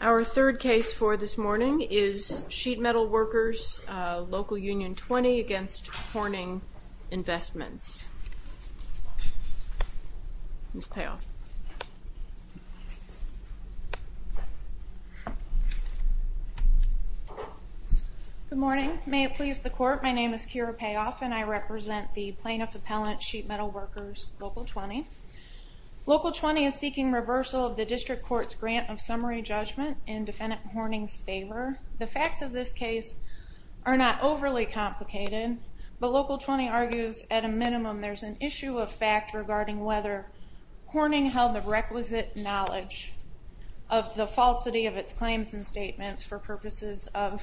Our third case for this morning is Sheet Metal Workers, Local Union 20, against Horning Investments. Ms. Payoff. Good morning. May it please the court, my name is Kira Payoff and I represent the Plaintiff Appellant Sheet Metal Workers, Local 20. Local 20 is seeking reversal of the district court's grant of summary judgment in defendant Horning's favor. The facts of this case are not overly complicated, but Local 20 argues at a minimum there's an issue of fact regarding whether Horning held the requisite knowledge of the falsity of its claims and statements for purposes of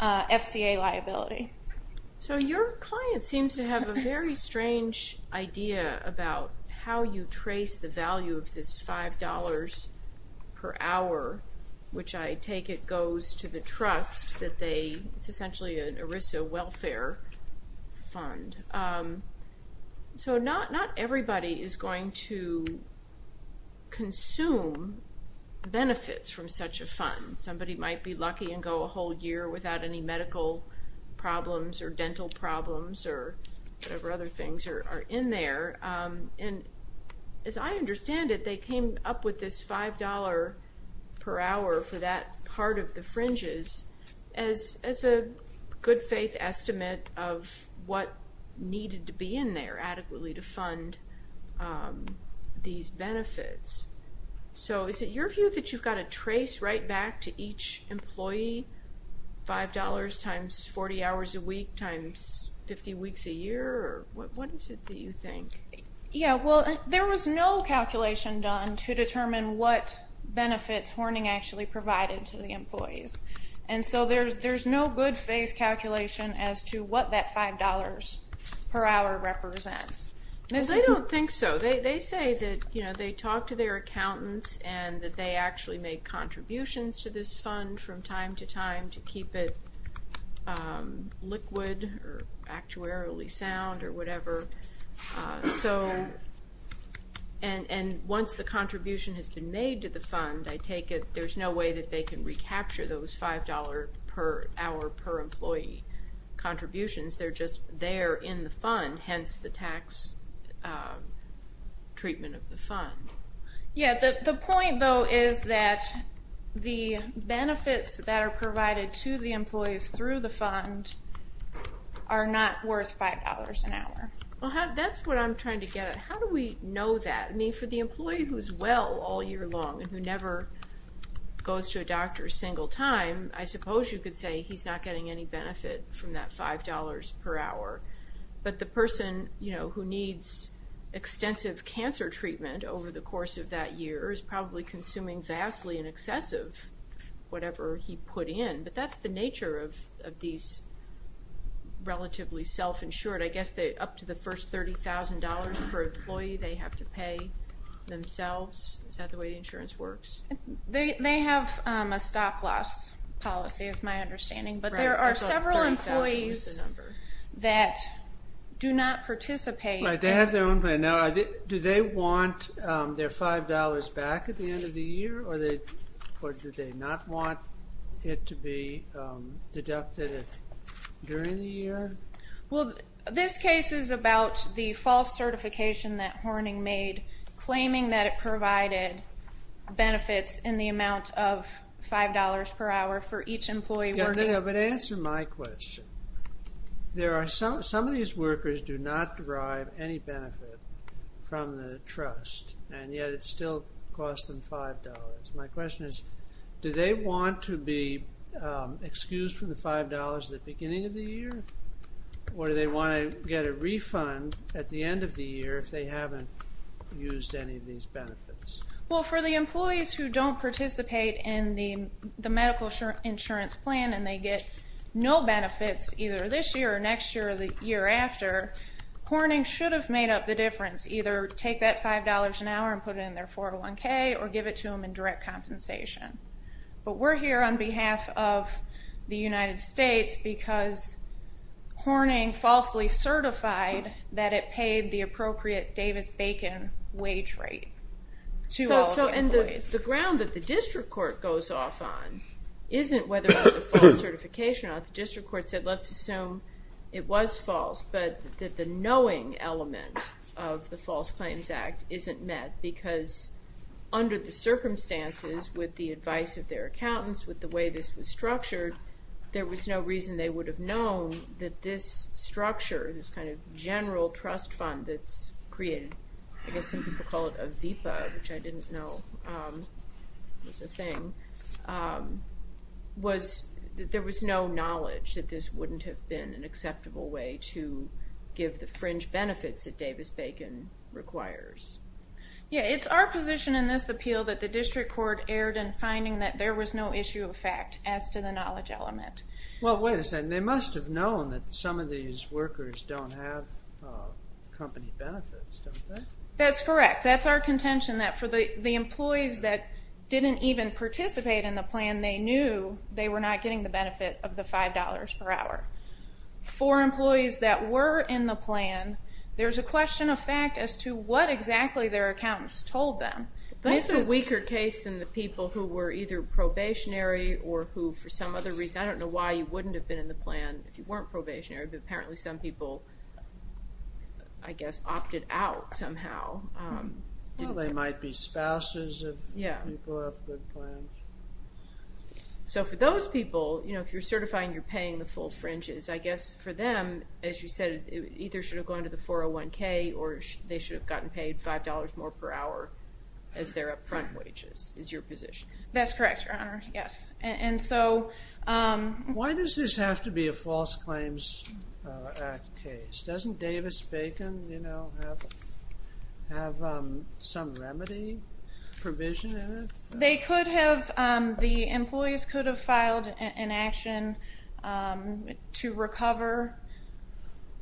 FCA liability. So your client seems to have a very strange idea about how you trace the value of this $5 per hour which I take it goes to the trust that they, it's essentially an ERISA welfare fund. So not everybody is going to consume benefits from such a fund. Somebody might be lucky and go a whole year without any medical problems or dental problems or whatever other things are in there and as I understand it they came up with this $5 per hour for that part of the fringes as a good-faith estimate of what needed to be in there adequately to fund these benefits. So is it your view that you've got to trace right back to each employee $5 times 40 hours a week times 50 weeks a year or what is it that you think? Yeah well there was no calculation done to determine what benefits Horning actually provided to the employees and so there's no good-faith calculation as to what that $5 per hour represents. They don't think so. They say that you know they talk to their accountants and that they actually make contributions to this fund from time to time to keep it liquid or actuarially sound or whatever so and once the contribution has been made to the fund I take it there's no way that they can recapture those $5 per hour per employee contributions they're just there in the fund hence the tax treatment of the fund. Yeah the point though is that the benefits that are provided to the That's what I'm trying to get at. How do we know that? I mean for the employee who's well all year long and who never goes to a doctor a single time I suppose you could say he's not getting any benefit from that $5 per hour but the person you know who needs extensive cancer treatment over the course of that year is probably consuming vastly in excessive whatever he put in but that's the nature of these relatively self-insured I guess they up to the first $30,000 per employee they have to pay themselves. Is that the way the insurance works? They have a stop-loss policy is my understanding but there are several employees that do not participate. Do they want their $5 back at the end of the year or do they not want it to be deducted during the year? Well this case is about the false certification that Horning made claiming that it provided benefits in the amount of $5 per hour for each employee. But answer my question there are some some of these workers do not derive any benefit from the trust and yet it still costs them $5. My question is do they want to be excused from the $5 at the beginning of the year or do they want to get a refund at the end of the year if they haven't used any of these benefits? Well for the employees who don't participate in the medical insurance plan and they get no benefits either this year or next year or the Horning should have made up the difference either take that $5 an hour and put it in their 401k or give it to them in direct compensation. But we're here on behalf of the United States because Horning falsely certified that it paid the appropriate Davis-Bacon wage rate to all of the employees. So the ground that the district court goes off on isn't whether it's a false certification. The district court said let's assume it was false but that the knowing element of the False Claims Act isn't met because under the circumstances with the advice of their accountants with the way this was structured there was no reason they would have known that this structure this kind of general trust fund that's created I guess some people call it a VEPA which I didn't know was a thing was there was no knowledge that this wouldn't have been an acceptable way to give the fringe benefits that Davis-Bacon requires. Yeah it's our position in this appeal that the district court erred in finding that there was no issue of fact as to the knowledge element. Well wait a second they must have known that some of these workers don't have company benefits. That's correct that's our contention that for the the employees that didn't even participate in the plan they knew they were not getting the benefit of the $5 per hour. For employees that were in the plan there's a question of fact as to what exactly their accountants told them. This is a weaker case than the people who were either probationary or who for some other reason I don't know why you wouldn't have been in the plan if you weren't probationary but apparently some people I guess opted out somehow. They might be spouses. Yeah so for those people you know if you're certifying you're paying the full fringes I guess for them as you said it either should have gone to the 401k or they should have gotten paid five dollars more per hour as their upfront wages is your position. That's doesn't Davis Bacon you know have some remedy provision. They could have the employees could have filed an action to recover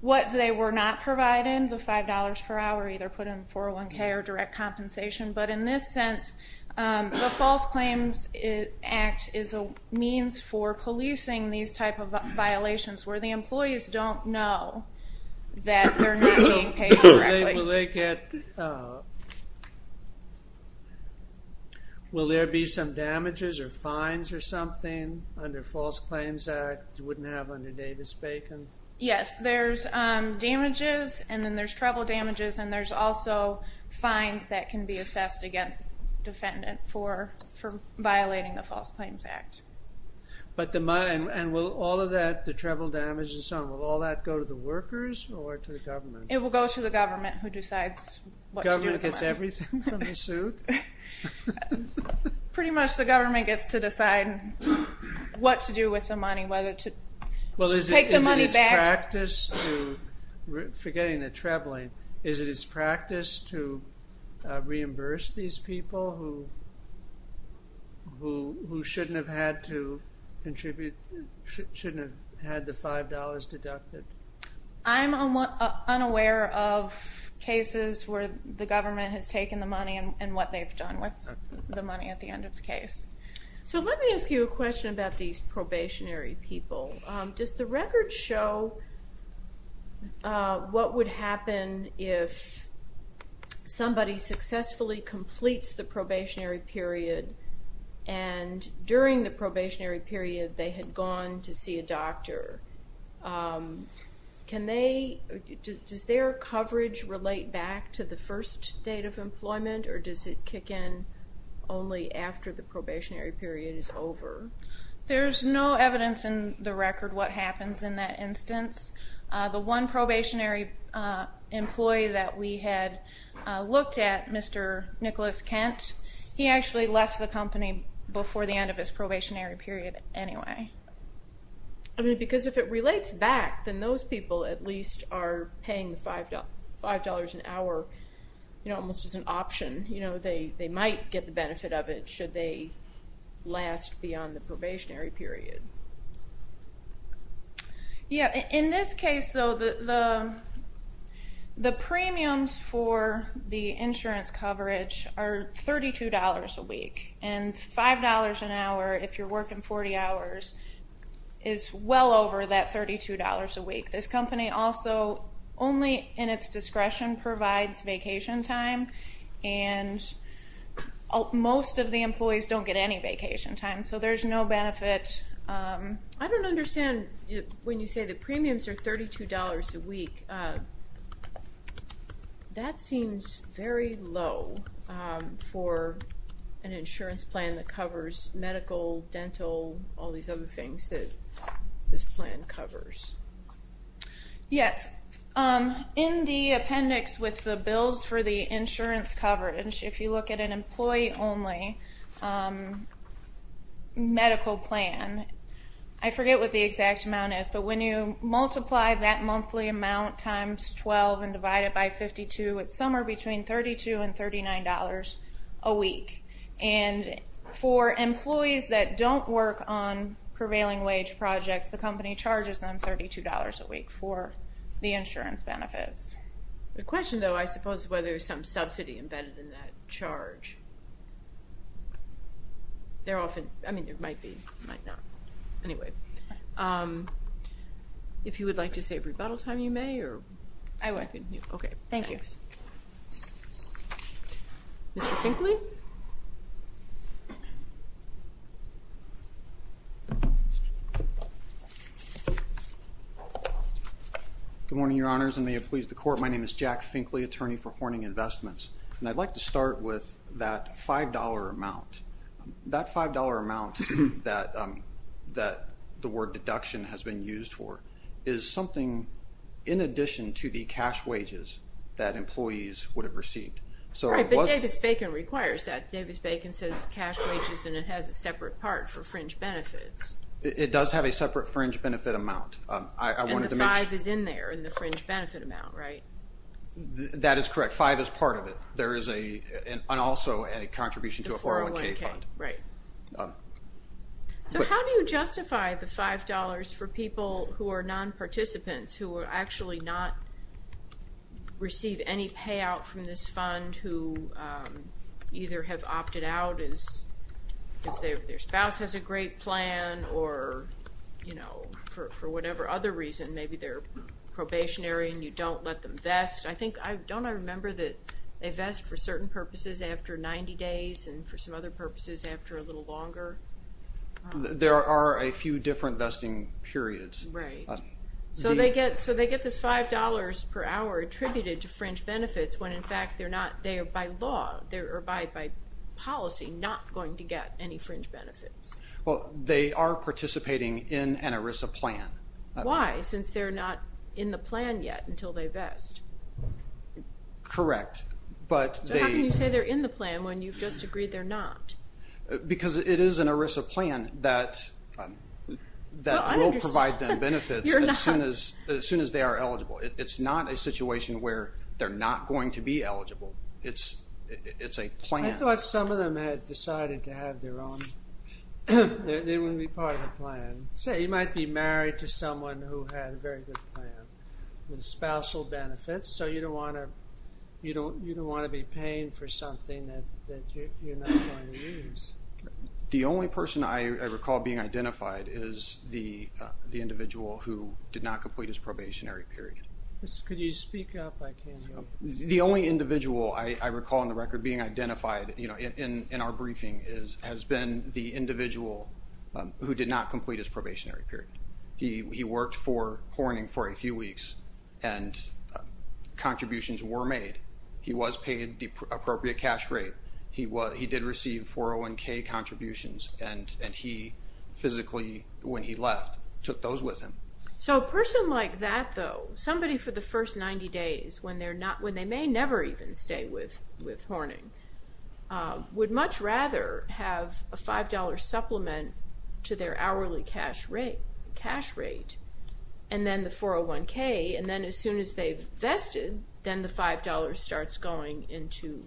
what they were not provided the five dollars per hour either put in 401k or direct compensation but in this sense the False Claims Act is a means for policing these type of violations where the employees don't know that they're not being paid correctly. Will there be some damages or fines or something under False Claims Act you wouldn't have under Davis Bacon? Yes there's damages and then there's treble damages and there's also fines that can be assessed against defendant for violating the False Claims Act. But the treble damage and so on, will all that go to the workers or to the government? It will go to the government who decides. The government gets everything from the suit? Pretty much the government gets to decide what to do with the money whether to take the money back. Forgetting the trebling, is it it's practice to reimburse these people who shouldn't have had to contribute, shouldn't have had the five dollars deducted? I'm unaware of cases where the government has taken the money and what they've done with the money at the end of the case. So let me ask you a question about these probationary people. Does the record show what would happen if somebody successfully completes the probationary period and during the probationary period they had gone to see a doctor? Can they, does their coverage relate back to the first date of employment or does it kick in only after the probationary period is over? There's no evidence in the record what happens in that instance. The one probationary employee that we had looked at, Mr. Nicholas Kent, he actually left the company before the end of his probationary period anyway. I mean because if it relates back then those people at least are paying five dollars an hour, you know, almost as an option. You know, they might get the benefit of it should they last beyond the probationary period. Yeah, in this case though the the premiums for the insurance coverage are thirty two dollars a week and five dollars an hour if you're working 40 hours is well over that thirty two dollars a week. This company also only in its discretion provides vacation time and most of the employees don't get any When you say the premiums are $32 a week, that seems very low for an insurance plan that covers medical, dental, all these other things that this plan covers. Yes, in the appendix with the bills for the insurance coverage, if you look at an when you multiply that monthly amount times 12 and divide it by 52, it's somewhere between 32 and 39 dollars a week and for employees that don't work on prevailing wage projects, the company charges them $32 a week for the insurance benefits. The question though I suppose whether there's some subsidy embedded in that charge. They're often, I mean there might be, might not. Anyway, if you would like to say rebuttal time you may. I would. Okay, thank you. Mr. Finkley? Good morning, Your Honors, and may it please the court, my name is Jack Finkley, attorney for Horning Investments, and I'd like to start with that five dollar amount. That five dollar amount that the word deduction has been used for is something in addition to the cash wages that employees would have received. Right, but Davis-Bacon requires that. Davis-Bacon says cash wages and it has a separate part for fringe benefits. It does have a separate fringe benefit amount. And the five is in there, in the fringe benefit amount, right? That is correct, five is part of it. There is also a contribution to a 401k fund. So how do you justify the five dollars for people who are non-participants, who actually not receive any payout from this fund, who either have opted out because their for whatever other reason, maybe they're probationary and you don't let them vest? I think, don't I remember that they vest for certain purposes after 90 days and for some other purposes after a little longer? There are a few different vesting periods. Right, so they get this five dollars per hour attributed to fringe benefits when in fact they're not, they are by law, they are by policy not going to get any fringe benefits. Well, they are participating in an ERISA plan. Why, since they're not in the plan yet until they vest? Correct, but So how can you say they're in the plan when you've just agreed they're not? Because it is an ERISA plan that will provide them benefits as soon as they are eligible. It's not a situation where they're not going to be eligible. It's a plan. I thought some of them had decided to have their own, they want to be part of the plan. So you might be married to someone who had a very good plan with spousal benefits so you don't want to be paying for something that you're not going to use. The only person I recall being identified is the individual who did not complete his probationary period. Could you speak up, I can't hear you. The only individual I recall in the record being identified, you know, in our briefing has been the individual who did not complete his probationary period. He worked for Horning for a few weeks and contributions were made. He was paid the appropriate cash rate. He did receive 401k contributions and he physically, when he left, took those with him. So a person like that though, somebody for the first 90 days when they may never even stay with Horning, would much rather have a five dollar supplement to their hourly cash rate and then the 401k and then as soon as they've vested then the five dollars starts going into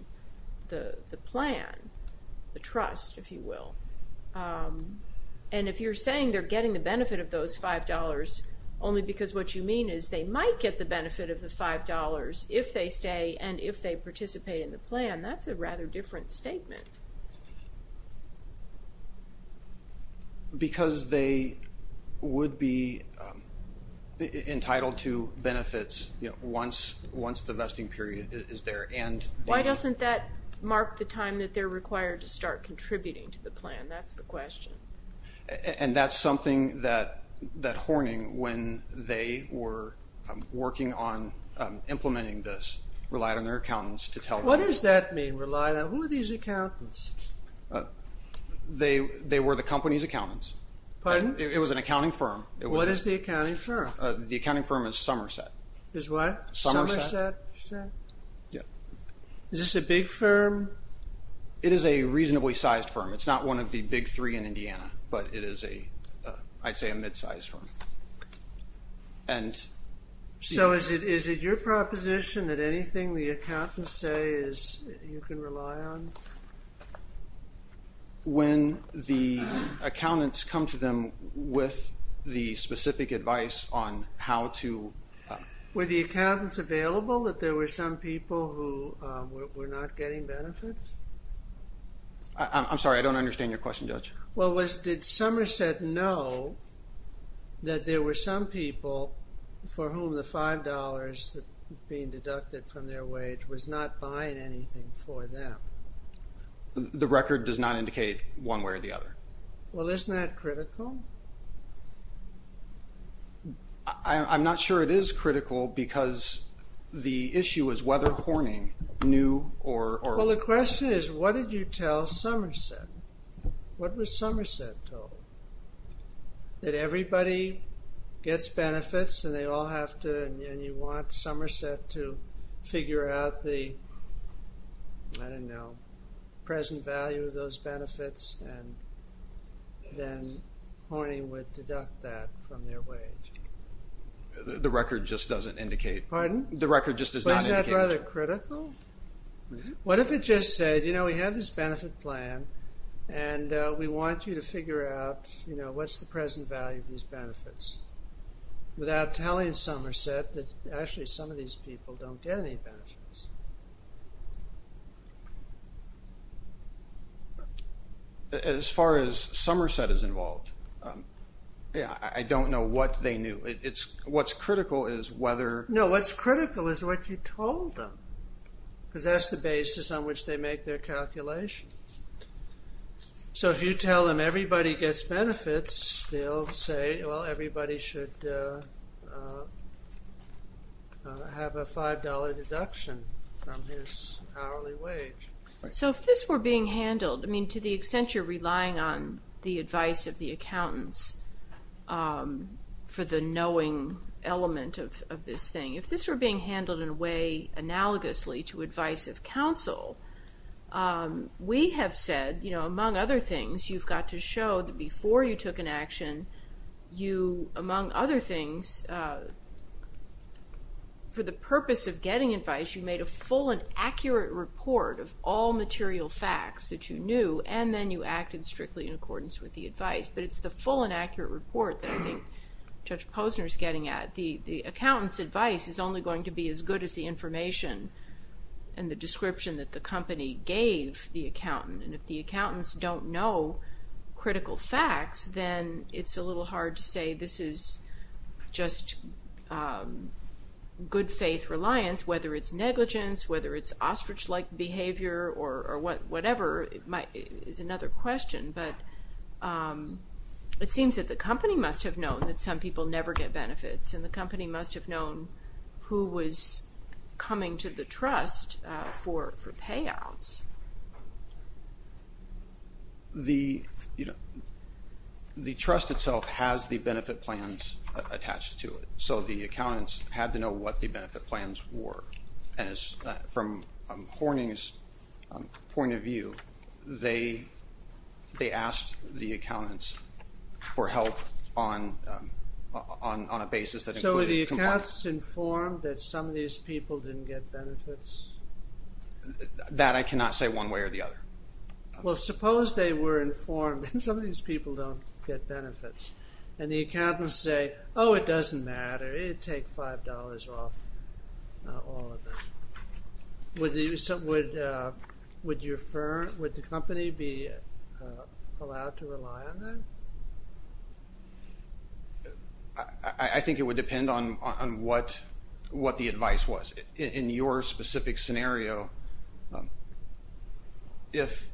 the plan, the trust if you will. And if you're saying they're getting the benefit of those five dollars only because what you mean is they might get the benefit of the five dollars if they stay and if that's a rather different statement. Because they would be entitled to benefits, you know, once the vesting period is there and... Why doesn't that mark the time that they're required to start contributing to the plan? That's the question. And that's something that Horning, when they were working on implementing this, relied on their accountants to tell them. What does that mean, rely on? Who are these accountants? They were the company's accountants. Pardon? It was an accounting firm. What is the accounting firm? The accounting firm is Somerset. Is what? Somerset. Is this a big firm? It is a reasonably sized firm. It's not one of the big three in Indiana but it is a, I'd say, a mid-sized firm. So is it your proposition that anything the accountants say is you can rely on? When the accountants come to them with the specific advice on how to... Were the accountants available, that there were some people who were not getting benefits? I'm sorry, I don't understand your question, Judge. Well, did Somerset know that there were some people for whom the five dollars that being deducted from their wage was not buying anything for them? The record does not indicate one way or the other. Well, isn't that critical? I'm not sure it is critical because the issue is whether Horning knew or... Well, the question is what did you tell Somerset? What was Somerset told? That everybody gets benefits and they all have to and you want Somerset to figure out the, I don't know, present value of those benefits and then Horning would deduct that from their wage. The record just doesn't indicate... Pardon? The record just does not indicate... Is that critical? What if it just said, you know, we have this benefit plan and we want you to figure out, you know, what's the present value of these benefits without telling Somerset that actually some of these people don't get any benefits. As far as Somerset is involved, yeah, I don't know what they knew. It's what's critical is whether... No, what's critical is what you told them because that's the basis on which they make their calculations. So, if you tell them everybody gets benefits, they'll say, well, everybody should have a $5 deduction from his hourly wage. So, if this were being handled, I mean, to the extent you're relying on the advice of the accountants for the knowing element of this thing, if this were being handled in a way analogously to advice of counsel, we have said, you know, among other things, you've got to show that before you took an action, you, among other things, for the purpose of getting advice, you made a full and accurate report of all material facts that you knew and then you acted strictly in accordance with the advice. But it's the full and accurate report that I think Judge Posner is getting at. The accountant's advice is only going to be as good as the information and the description that the company gave the accountant. And if the accountants don't know critical facts, then it's a little hard to say this is just good faith reliance, whether it's negligence, whether it's ostrich-like behavior, or it seems that the company must have known that some people never get benefits, and the company must have known who was coming to the trust for payouts. The, you know, the trust itself has the benefit plans attached to it, so the accountants had to know what the benefit plans were, and it's from Horning's point of view, they asked the accountants for help on a basis that included compliance. So were the accountants informed that some of these people didn't get benefits? That I cannot say one way or the other. Well, suppose they were informed that some of these people don't get benefits, and the accountants say, oh, it doesn't matter, it'd take $5 off all of them. Would you refer, would the company be allowed to rely on that? I think it would depend on what the advice was. In your specific scenario, if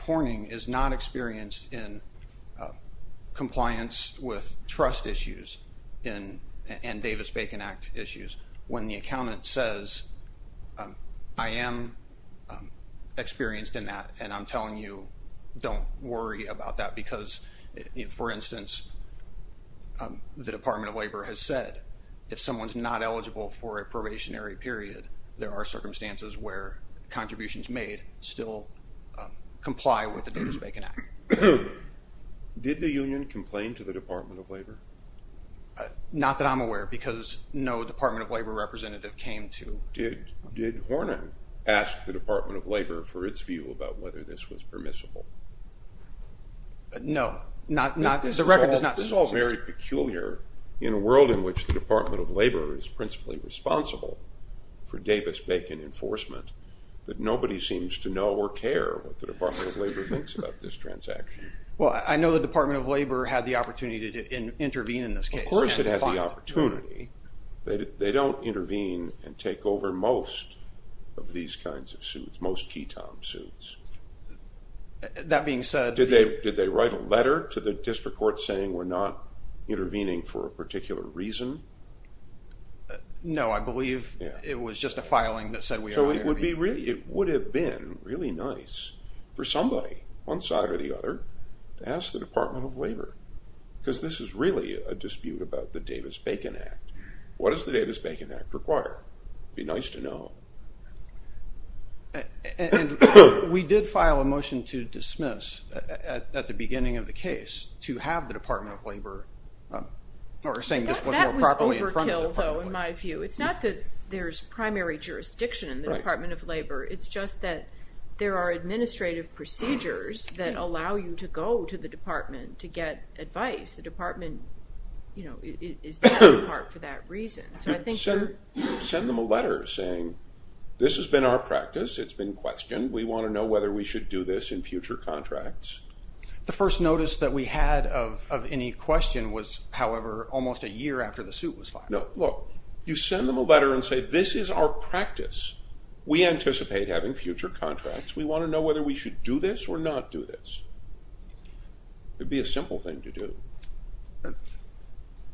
Horning is not experienced in compliance with trust issues and Davis-Bacon Act issues, when the accountant says, I am experienced in that, and I'm telling you, don't worry about that because, for instance, the Department of Labor has said, if someone's not eligible for a probationary period, there are circumstances where contributions made still comply with the Davis-Bacon Act. Did the union complain to the Department of Labor? Not that I'm aware, because no Department of Labor representative came to. Did Horning ask the Department of Labor for its view about whether this was permissible? No, not, the record does not. This is all very peculiar in a world in which the Department of Labor is principally responsible for Davis-Bacon enforcement, that nobody seems to know or care what this transaction is. Well, I know the Department of Labor had the opportunity to intervene in this case. Of course it had the opportunity. They don't intervene and take over most of these kinds of suits, most ketone suits. That being said... Did they write a letter to the district court saying we're not intervening for a particular reason? So it would be really, it would have been really nice for somebody, one side or the other, to ask the Department of Labor, because this is really a dispute about the Davis-Bacon Act. What does the Davis-Bacon Act require? It'd be nice to know. And we did file a motion to dismiss at the beginning of the case to have the Department of Labor, or saying this was more properly in front of the Department of Labor. That was overkill though, in my view. It's not that there's primary jurisdiction in the Department of Labor. It's just that there are administrative procedures that allow you to go to the department to get advice. The department, you know, is there in part for that reason. So I think... Send them a letter saying, this has been our practice. It's been questioned. We want to know whether we should do this in future contracts. The first notice that we had of any question was, however, almost a year after the suit was filed. No, look, you send them a letter and say, this is our practice. We anticipate having future contracts. We want to know whether we should do this or not do this. It'd be a simple thing to do.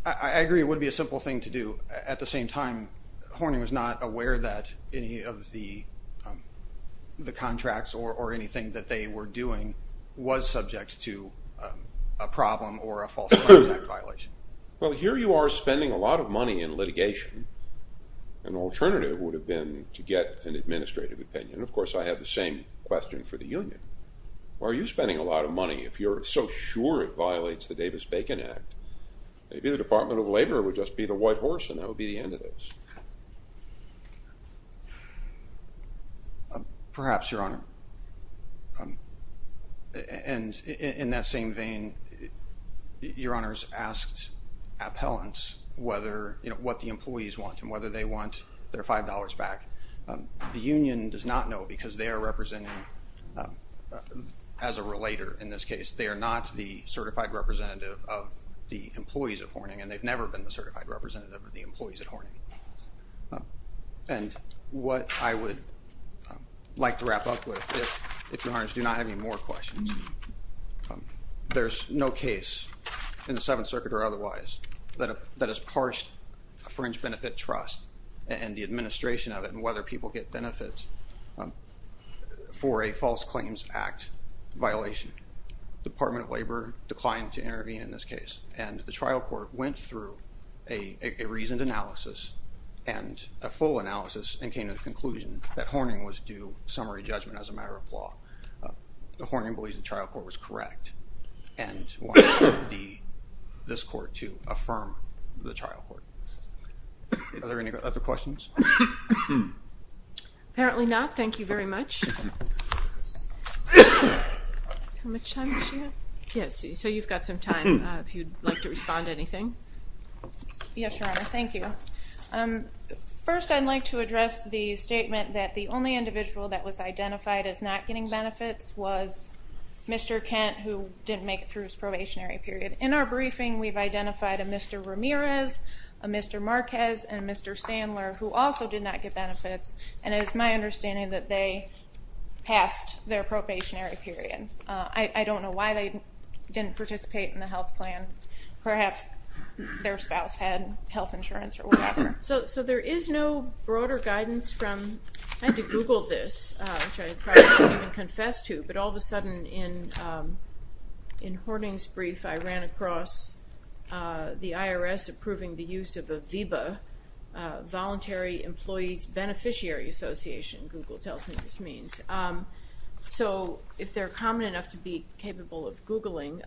I agree it would be a simple thing to do. At the same time, Horning was not aware that any of the contracts or anything that they were doing was subject to a problem or a false contact violation. Well, here you are spending a lot of money in litigation. An alternative would have been to get an administrative opinion. Of course, I have the same question for the union. Why are you spending a lot of money if you're so sure it violates the Davis-Bacon Act? Maybe the Department of Labor would just be the white horse and that would be the end of this. Perhaps, Your Honor. And in that same vein, Your Honor's asked appellants whether, you know, what the employees want and whether they want their $5 back. The union does not know because they are representing, as a relater in this case, they are not the certified representative of the employees at Horning and they've never been the certified representative of the employees at Horning. And what I would like to wrap up with, if Your Honor's do not have any more questions, there's no case in the Seventh Circuit or otherwise that has parched a fringe benefit trust and the administration of it and whether people get benefits for a false claims act violation. Department of Labor declined to intervene in this case and the trial court went through a reasoned analysis and a full analysis and came to the conclusion that Horning was due summary judgment as a matter of law. The Horning believes the trial court was correct and wanted this court to affirm the trial court. Are there any other questions? Apparently not. Thank you very much. How much time does she have? Yes, so you've got some time if you'd like to respond to anything. Yes, Your Honor, thank you. First, I'd like to address the statement that the only individual that was identified as not getting benefits was Mr. Kent, who didn't make it through his probationary period. In our briefing, we've identified a Mr. Ramirez, a Mr. Marquez, and Mr. Sandler, who also did not get benefits and it is my understanding that they passed their probationary period. I don't know why they didn't participate in the health plan. Perhaps their spouse had health insurance or whatever. So there is no broader guidance from, I had to Google this, which I probably shouldn't even confess to, but all of a sudden in Horning's brief, I ran across the IRS approving the use of a VEBA, Voluntary Employees Beneficiary Association, Google tells me this means. So if they're common enough to be capable of Googling,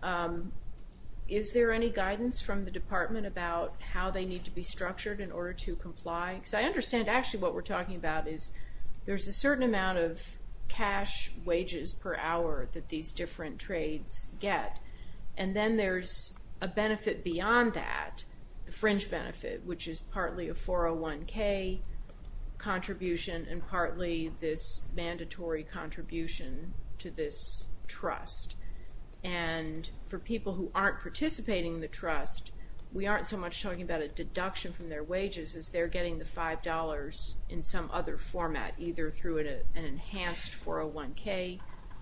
is there any guidance from the department about how they need to be structured in order to comply? Because I understand actually what we're talking about is there's a certain amount of cash wages per hour that these different trades get and then there's a benefit beyond that, the fringe benefit, which is partly a 401k contribution and partly this mandatory contribution to this trust. And for people who aren't participating in the trust, we aren't so much talking about a deduction from their wages as they're getting the $5 in some other format, either through an enhanced 401k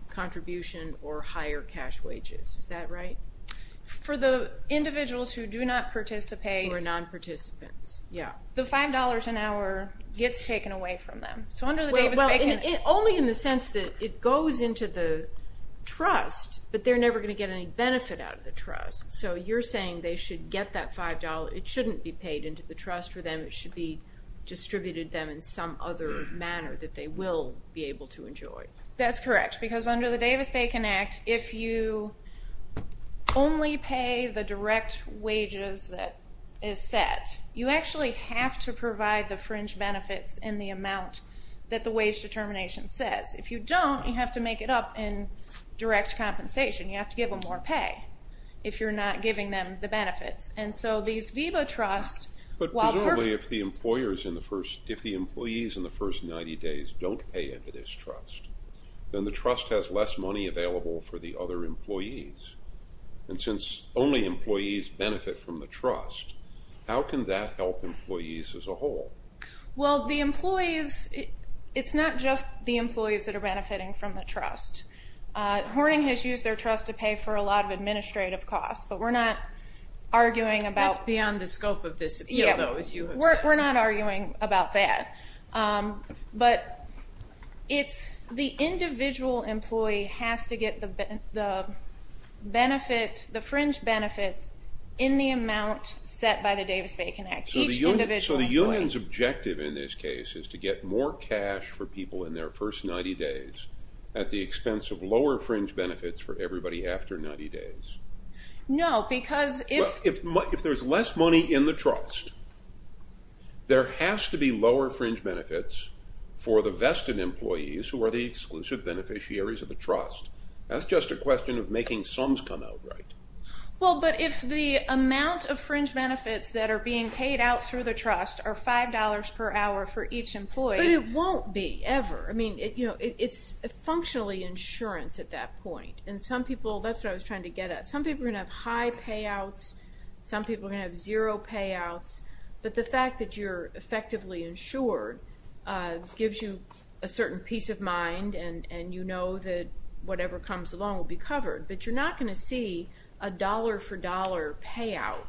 contribution or higher cash wages. Is that right? For the individuals who do not participate. Who are non-participants, yeah. The $5 an hour gets taken away from them. Only in the sense that it goes into the trust, but they're never going to get any benefit out of the trust. So you're saying they should get that $5. It shouldn't be paid into the trust for them. It should be distributed to them in some other manner that they will be able to enjoy. That's correct. Because under the Davis-Bacon Act, if you only pay the direct wages that is set, you actually have to provide the fringe benefits in the amount that the wage determination says. If you don't, you have to make it up in direct compensation. You have to give them more pay if you're not giving them the benefits. And so these VEBA trusts, while- Presumably if the employees in the first 90 days don't pay into this trust, then the trust has less money available for the other employees. And since only employees benefit from the trust, how can that help employees as a whole? Well, the employees, it's not just the employees that are benefiting from the trust. Horning has used their trust to pay for a lot of administrative costs, but we're not arguing about- That's beyond the scope of this appeal, though, as you have said. We're not arguing about that. But the individual employee has to get the fringe benefits in the amount set by the Davis-Bacon Act, each individual employee. So the union's objective in this case is to get more cash for people in their first 90 days at the expense of lower fringe benefits for everybody after 90 days? No, because if- If there's less money in the trust, there has to be lower fringe benefits for the vested employees who are the exclusive beneficiaries of the trust. That's just a question of making sums come out right. Well, but if the amount of fringe benefits that are being paid out through the trust are $5 per hour for each employee- But it won't be, ever. I mean, it's functionally insurance at that point. And some people, that's what I was trying to get at. Some people are going to have high payouts. Some people are going to have zero payouts. But the fact that you're effectively insured gives you a certain peace of mind and you know that whatever comes along will be covered. But you're not going to see a dollar-for-dollar payout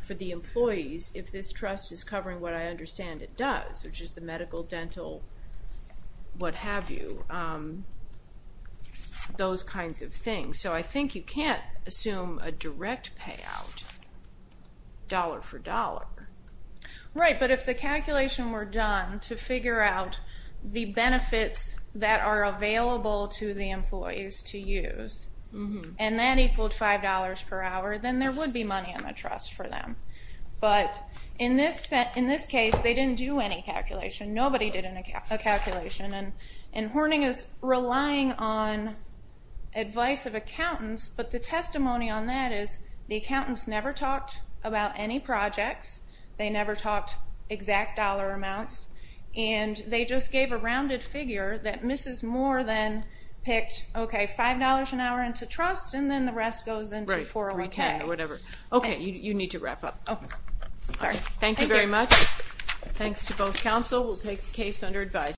for the employees if this trust is covering what I understand it does, which is the medical, dental, what have you, those kinds of things. So I think you can't assume a direct payout dollar-for-dollar. Right, but if the calculation were done to figure out the benefits that are available to the employees to use and that equaled $5 per hour, then there would be money in the trust for them. But in this case, they didn't do any calculation. Nobody did a calculation. And Horning is relying on advice of accountants. But the testimony on that is the accountants never talked about any projects. They never talked exact dollar amounts. And they just gave a rounded figure that Mrs. Moore then picked, okay, $5 an hour into trust, and then the rest goes into 401k or whatever. Okay, you need to wrap up. Thank you very much. Thanks to both counsel. We'll take the case under advice.